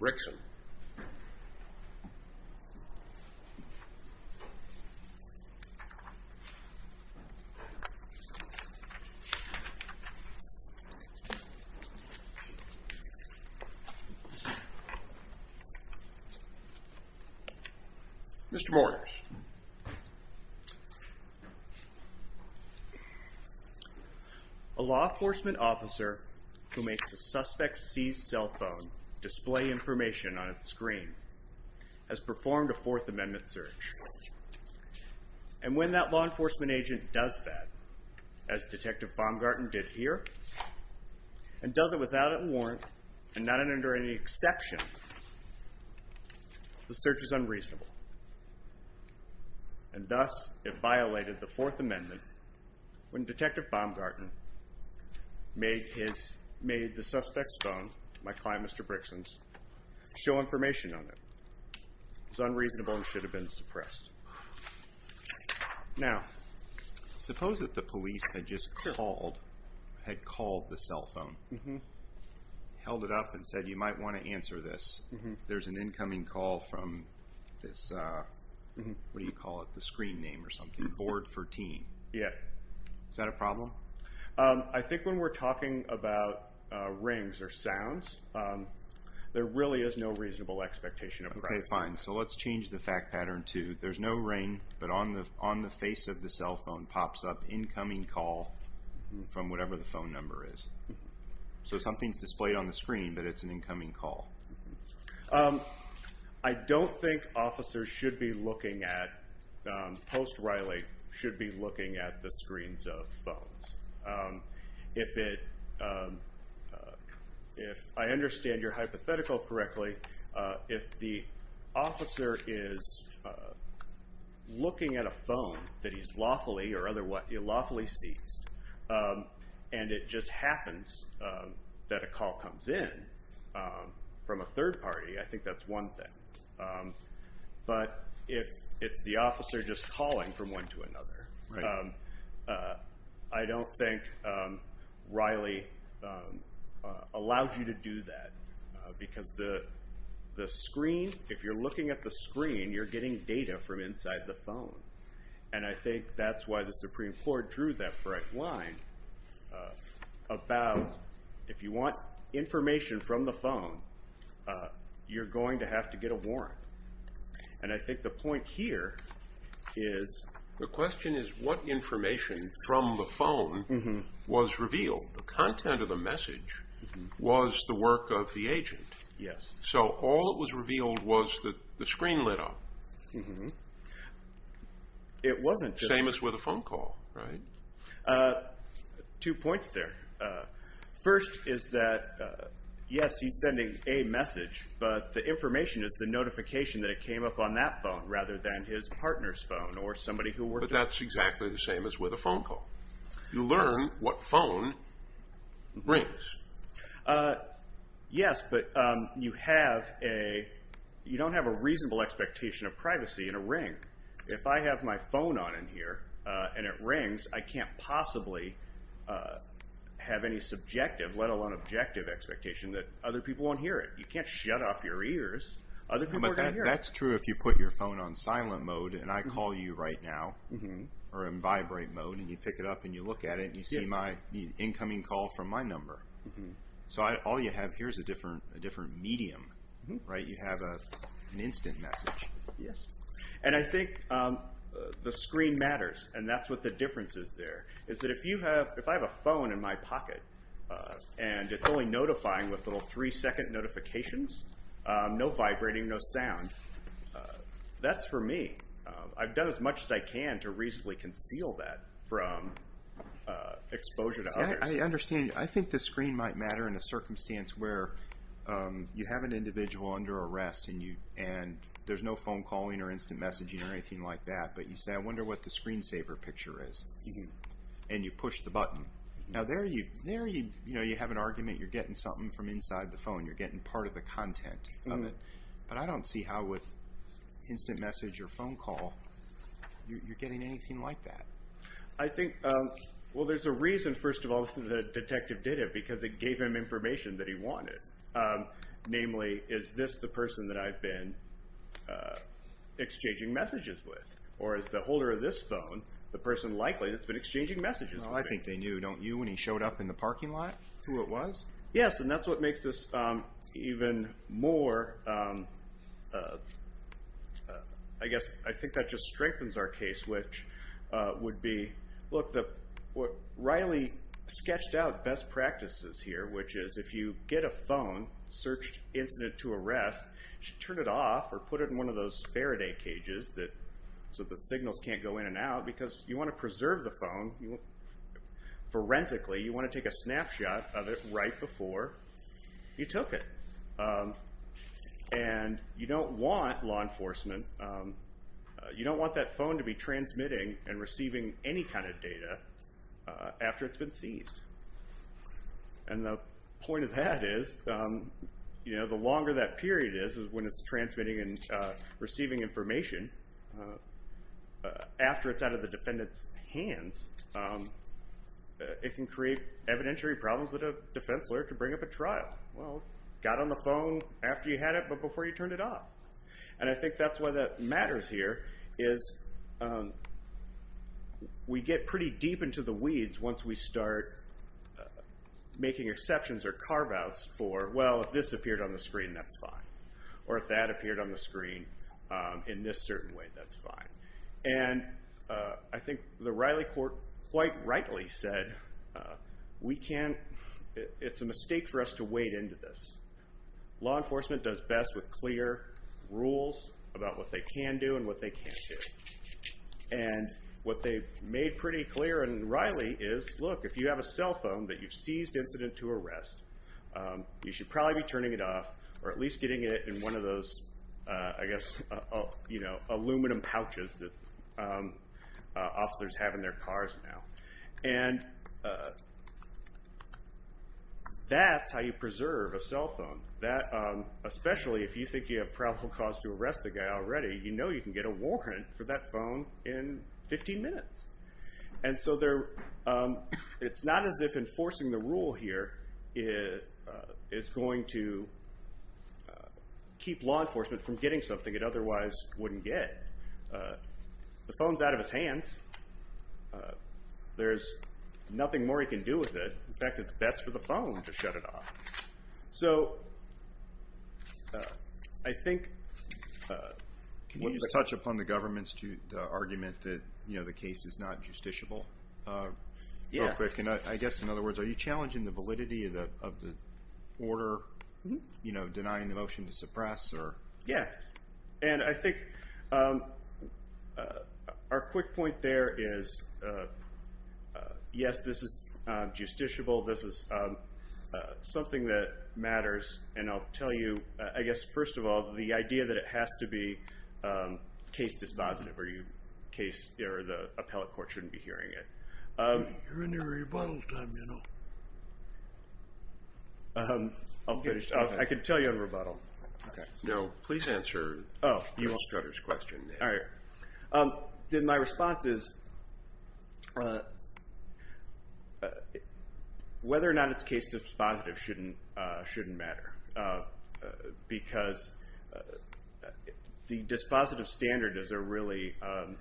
Mr. Morris, a law enforcement officer who makes a suspect's seized cell phone display information on a screen has performed a Fourth Amendment search. And when that law enforcement agent does that, as Detective Baumgarten did here, and does it without a warrant and not under any exception, the search is unreasonable. And thus, it violated the Fourth Amendment when Detective Baumgarten made the suspect's phone, my client Mr. Brixen's, show information on it. It was unreasonable and should have been suppressed. Now, suppose that the police had just called, had called the cell phone, held it up and said, you might want to answer this. There's an incoming call from this, what do you call it, the screen name or something. Board 14. Is that a problem? I think when we're talking about rings or sounds, there really is no reasonable expectation of privacy. Okay, fine. So let's change the fact pattern to there's no ring, but on the face of the cell phone pops up incoming call from whatever the phone number is. So something's displayed on the screen, but it's an I don't think officers should be looking at, post-Riley, should be looking at the screens of phones. If it, if I understand your hypothetical correctly, if the officer is looking at a phone that he's lawfully or otherwise, lawfully seized and it just happens that a call comes in from a third party, I think that's one thing. But if it's the officer just calling from one to another, I don't think Riley allows you to do that because the screen, if you're looking at the screen, you're getting data from inside the phone. And I think that's why the Supreme Court drew that bright line about if you want information from the phone, you're going to have to get a warrant. And I think the point here is... The question is what information from the phone was revealed? The content of the message was the work of the agent. Yes. So all that was revealed was that the screen lit up. It wasn't... Same as with a phone call, right? Two points there. First is that, yes, he's sending a message, but the information is the notification that it came up on that phone rather than his partner's phone or somebody who worked... But that's exactly the same as with a phone call. You learn what phone rings. Yes, but you have a... You don't have a reasonable expectation of privacy in a ring. If I have my phone on in here and it rings, I can't possibly have any subjective, let alone objective expectation that other people won't hear it. You can't shut off your ears. Other people are going to hear it. But that's true if you put your phone on silent mode and I call you right now or in vibrate mode and you pick it up and you look at it and you see my incoming call from my number. So all you have here is a different medium. You have an instant message. Yes. And I think the screen matters. And that's what the difference is there, is that if I have a phone in my pocket and it's only notifying with little three-second notifications, no vibrating, no sound, that's for me. I've done as much as I can to reasonably conceal that from exposure to others. I understand. I think the screen might matter in a circumstance where you have an individual under arrest and there's no phone calling or instant messaging or anything like that. But you say, I wonder what the screensaver picture is. And you push the button. Now there you have an argument. You're getting something from inside the phone. You're getting part of the content. But I don't see how with instant message or phone call, you're getting anything like that. I think, well, there's a reason, first of all, the detective did it because it gave him information that he wanted. Namely, is this the person that I've been exchanging messages with? Or is the holder of this phone the person likely that's been exchanging messages with? I think they knew, don't you, when he showed up in the parking lot who it was? Yes, and that's what makes this even more, I guess, I think that just strengthens our case, which would be, look, what Riley sketched out best practices here, which is if you get a phone, search incident to arrest, you should turn it off or put it in one of those Faraday cages so the signals can't go in and out because you want to preserve the phone. Forensically, you want to take a snapshot of it right before you took it. And you don't want law enforcement, you don't want that phone to be transmitting and receiving any kind of data after it's been seized. And the point of that is the longer that period is when it's transmitting and receiving information, after it's out of the defendant's hands, it can create evidentiary problems that a defense lawyer could bring up at trial. Well, got on the phone after you had it but before you turned it off. And I think that's why that matters here is we get pretty deep into the weeds once we start making exceptions or carve-outs for, well, if this appeared on the screen, that's fine. Or if that appeared on the screen in this certain way, that's fine. And I think the Riley court quite rightly said we can't, it's a mistake for us to wade into this. Law enforcement does best with clear rules about what they can do and what they can't do. And what they've made pretty clear in Riley is, look, if you have a cell phone that you've seized incident to arrest, you should probably be turning it off or at least getting it in one of those, I guess, aluminum pouches that officers have in their cars now. And that's how you preserve a cell phone. Especially if you think you have probable cause to arrest the guy already, you know you can get a warrant for that phone in 15 minutes. And so it's not as if enforcing the rule here is going to keep law enforcement from getting something it otherwise wouldn't get. The phone's out of his hands. There's nothing more he can do with it. In fact, it's best for the phone to shut it off. So I think... Can you touch upon the government's argument that the case is not justiciable real quick? Yeah. And I guess in other words, are you challenging the validity of the order, denying the motion to suppress? Yeah. And I think our quick point there is, yes, this is justiciable. This is something that matters. And I'll tell you, I guess, first of all, the idea that it has to be case dispositive or the appellate court shouldn't be hearing it. You're in your rebuttal time, you know. I'll finish. I can tell you a rebuttal. All right. Then my response is, whether or not it's case dispositive shouldn't matter because the dispositive standard is a really...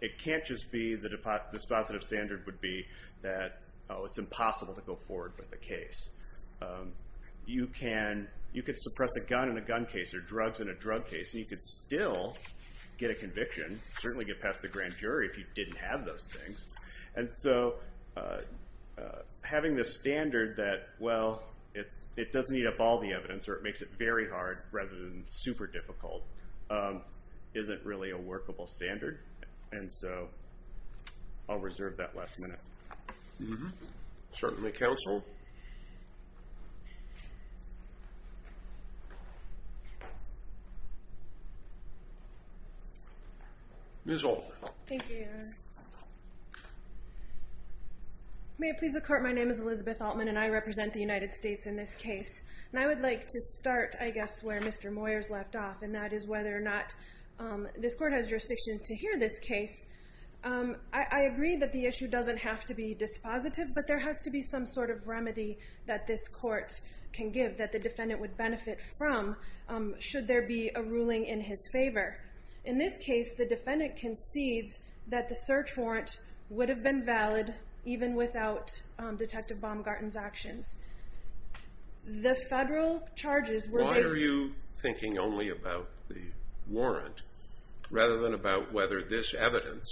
It can't just be the dispositive standard would be that, oh, it's impossible to go forward with the case. You can suppress a gun in a gun case or drugs in a drug case, and you could still get a conviction, certainly get past the grand jury if you didn't have those things. And so having this standard that, well, it doesn't eat up all the evidence or it makes it very hard rather than super difficult isn't really a workable standard. And so I'll reserve that last minute. Certainly counsel. Ms. Altman. Thank you, Your Honor. May it please the court, my name is Elizabeth Altman, and I represent the United States in this case. And I would like to start, I guess, where Mr. Moyers left off, and that is whether or not this court has jurisdiction to hear this case. I agree that the issue doesn't have to be dispositive, but there has to be some sort of remedy that this court can give that the defendant would benefit from should there be a ruling in his favor. In this case, the defendant concedes that the search warrant would have been valid even without Detective Baumgarten's actions. The federal charges were based... Why are you thinking only about the warrant rather than about whether this evidence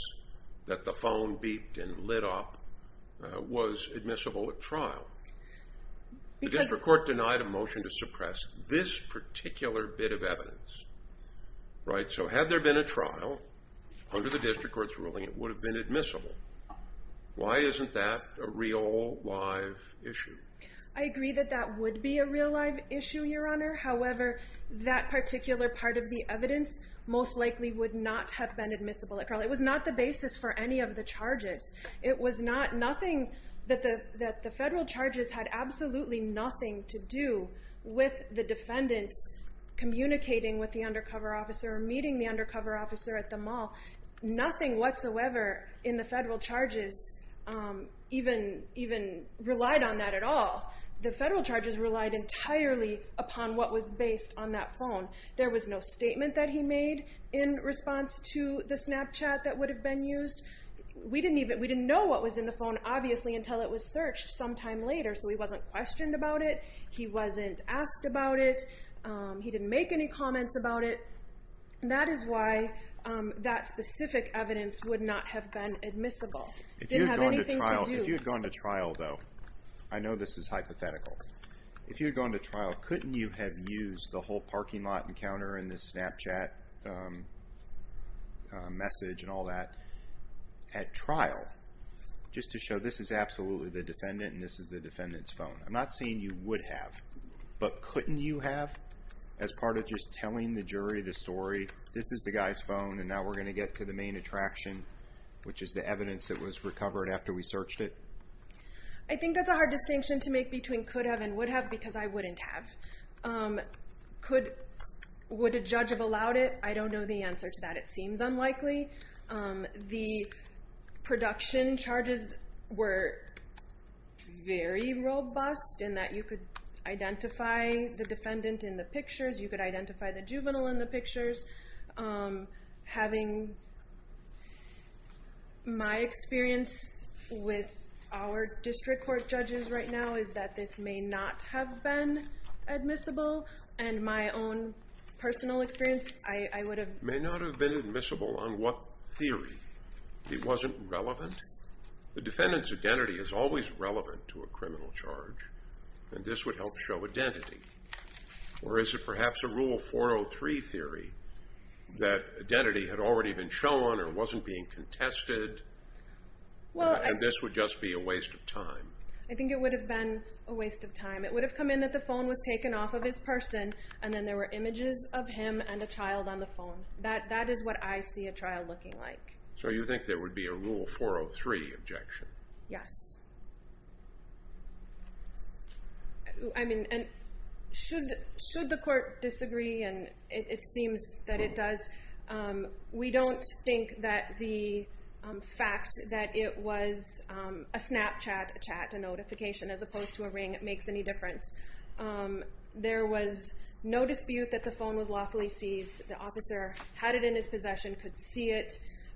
that the phone beeped and lit up was admissible at trial? The district court denied a motion to suppress this particular bit of evidence. Right, so had there been a trial, under the district court's ruling, it would have been admissible. Why isn't that a real, live issue? I agree that that would be a real, live issue, Your Honor. However, that particular part of the evidence most likely would not have been admissible at trial. It was not the basis for any of the charges. It was not nothing that the federal charges had absolutely nothing to do with the defendant communicating with the undercover officer or meeting the undercover officer at the mall. Nothing whatsoever in the federal charges even relied on that at all. The federal charges relied entirely upon what was based on that phone. There was no statement that he made in response to the Snapchat that would have been used. We didn't know what was in the phone, obviously, until it was searched sometime later, so he wasn't questioned about it. He wasn't asked about it. He didn't make any comments about it. That is why that specific evidence would not have been admissible. It didn't have anything to do... If you had gone to trial, though, I know this is hypothetical. If you had gone to trial, couldn't you have used the whole parking lot encounter and the Snapchat message and all that at trial just to show this is absolutely the defendant and this is the defendant's phone? I'm not saying you would have, but couldn't you have as part of just telling the jury the story, this is the guy's phone and now we're going to get to the main attraction, which is the evidence that was recovered after we searched it? I think that's a hard distinction to make between could have and would have because I wouldn't have. Would a judge have allowed it? I don't know the answer to that. It seems unlikely. The production charges were very robust in that you could identify the defendant in the pictures, you could identify the juvenile in the pictures. Having my experience with our district court judges right now is that this may not have been admissible and my own personal experience, I would have... May not have been admissible on what theory? It wasn't relevant? The defendant's identity is always relevant to a criminal charge and this would help show identity. Or is it perhaps a Rule 403 theory that identity had already been shown or wasn't being contested and this would just be a waste of time? I think it would have been a waste of time. It would have come in that the phone was taken off of his person and then there were images of him and a child on the phone. That is what I see a child looking like. So you think there would be a Rule 403 objection? Yes. I mean, should the court disagree? And it seems that it does. We don't think that the fact that it was a Snapchat chat notification as opposed to a ring makes any difference. There was no dispute that the phone was lawfully seized. The officer had it in his possession, could see it.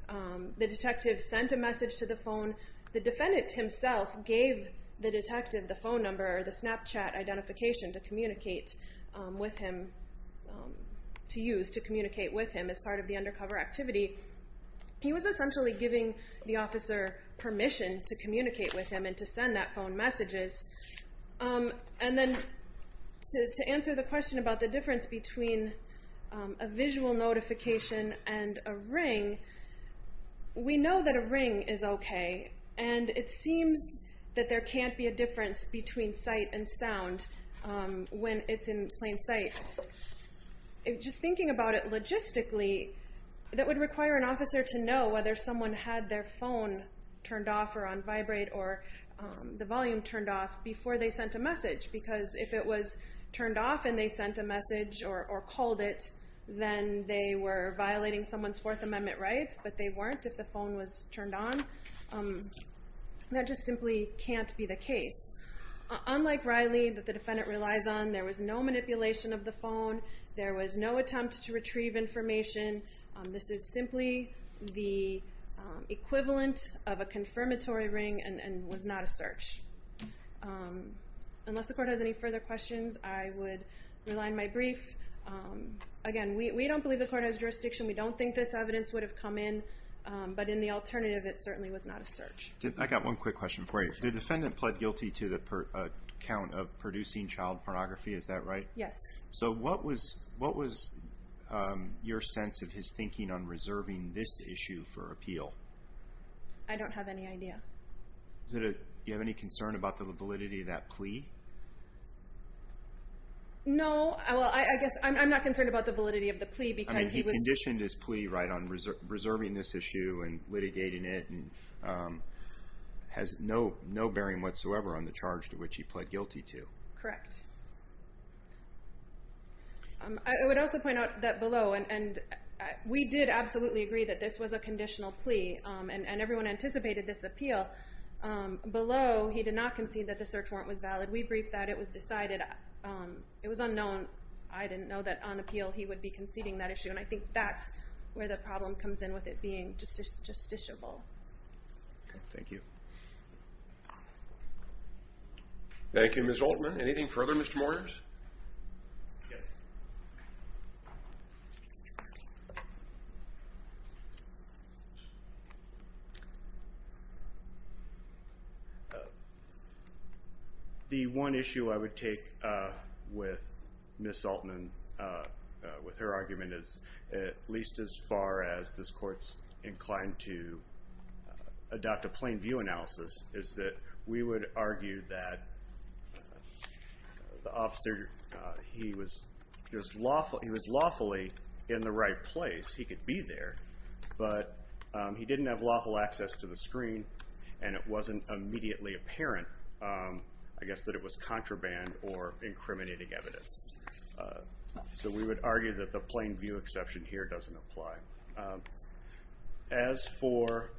The detective sent a message to the phone. The defendant himself gave the detective the phone number or the Snapchat identification to communicate with him, to use to communicate with him as part of the undercover activity. He was essentially giving the officer permission to communicate with him and to send that phone messages. And then to answer the question about the difference between a visual notification and a ring, we know that a ring is okay, and it seems that there can't be a difference between sight and sound when it's in plain sight. Just thinking about it logistically, that would require an officer to know whether someone had their phone turned off or on vibrate or the volume turned off before they sent a message because if it was turned off and they sent a message or called it, then they were violating someone's Fourth Amendment rights, but they weren't if the phone was turned on. That just simply can't be the case. Unlike Riley that the defendant relies on, there was no manipulation of the phone. There was no attempt to retrieve information. This is simply the equivalent of a confirmatory ring and was not a search. Unless the court has any further questions, I would rely on my brief. Again, we don't believe the court has jurisdiction. We don't think this evidence would have come in. But in the alternative, it certainly was not a search. I got one quick question for you. The defendant pled guilty to the count of producing child pornography. Is that right? Yes. So what was your sense of his thinking on reserving this issue for appeal? I don't have any idea. Do you have any concern about the validity of that plea? No. Well, I guess I'm not concerned about the validity of the plea because he was. I mean, he conditioned his plea, right, on reserving this issue and litigating it and has no bearing whatsoever on the charge to which he pled guilty to. Correct. I would also point out that below, and we did absolutely agree that this was a conditional plea, and everyone anticipated this appeal. Below, he did not concede that the search warrant was valid. We briefed that. It was decided. It was unknown. I didn't know that on appeal he would be conceding that issue, and I think that's where the problem comes in with it being justiciable. Okay. Thank you. Thank you, Ms. Altman. Anything further, Mr. Moyers? Yes. The one issue I would take with Ms. Altman, with her argument, is at least as far as this Court's inclined to adopt a plain view analysis, is that we would argue that the officer, he was lawfully in the right place. He could be there, but he didn't have lawful access to the screen and it wasn't immediately apparent, I guess, that it was contraband or incriminating evidence. So we would argue that the plain view exception here doesn't apply. As for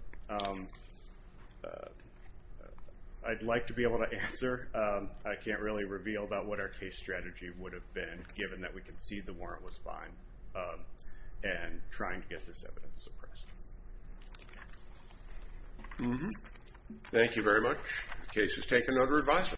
I'd like to be able to answer, I can't really reveal about what our case strategy would have been, given that we conceded the warrant was fine, and trying to get this evidence suppressed. Thank you very much. The case is taken under revising.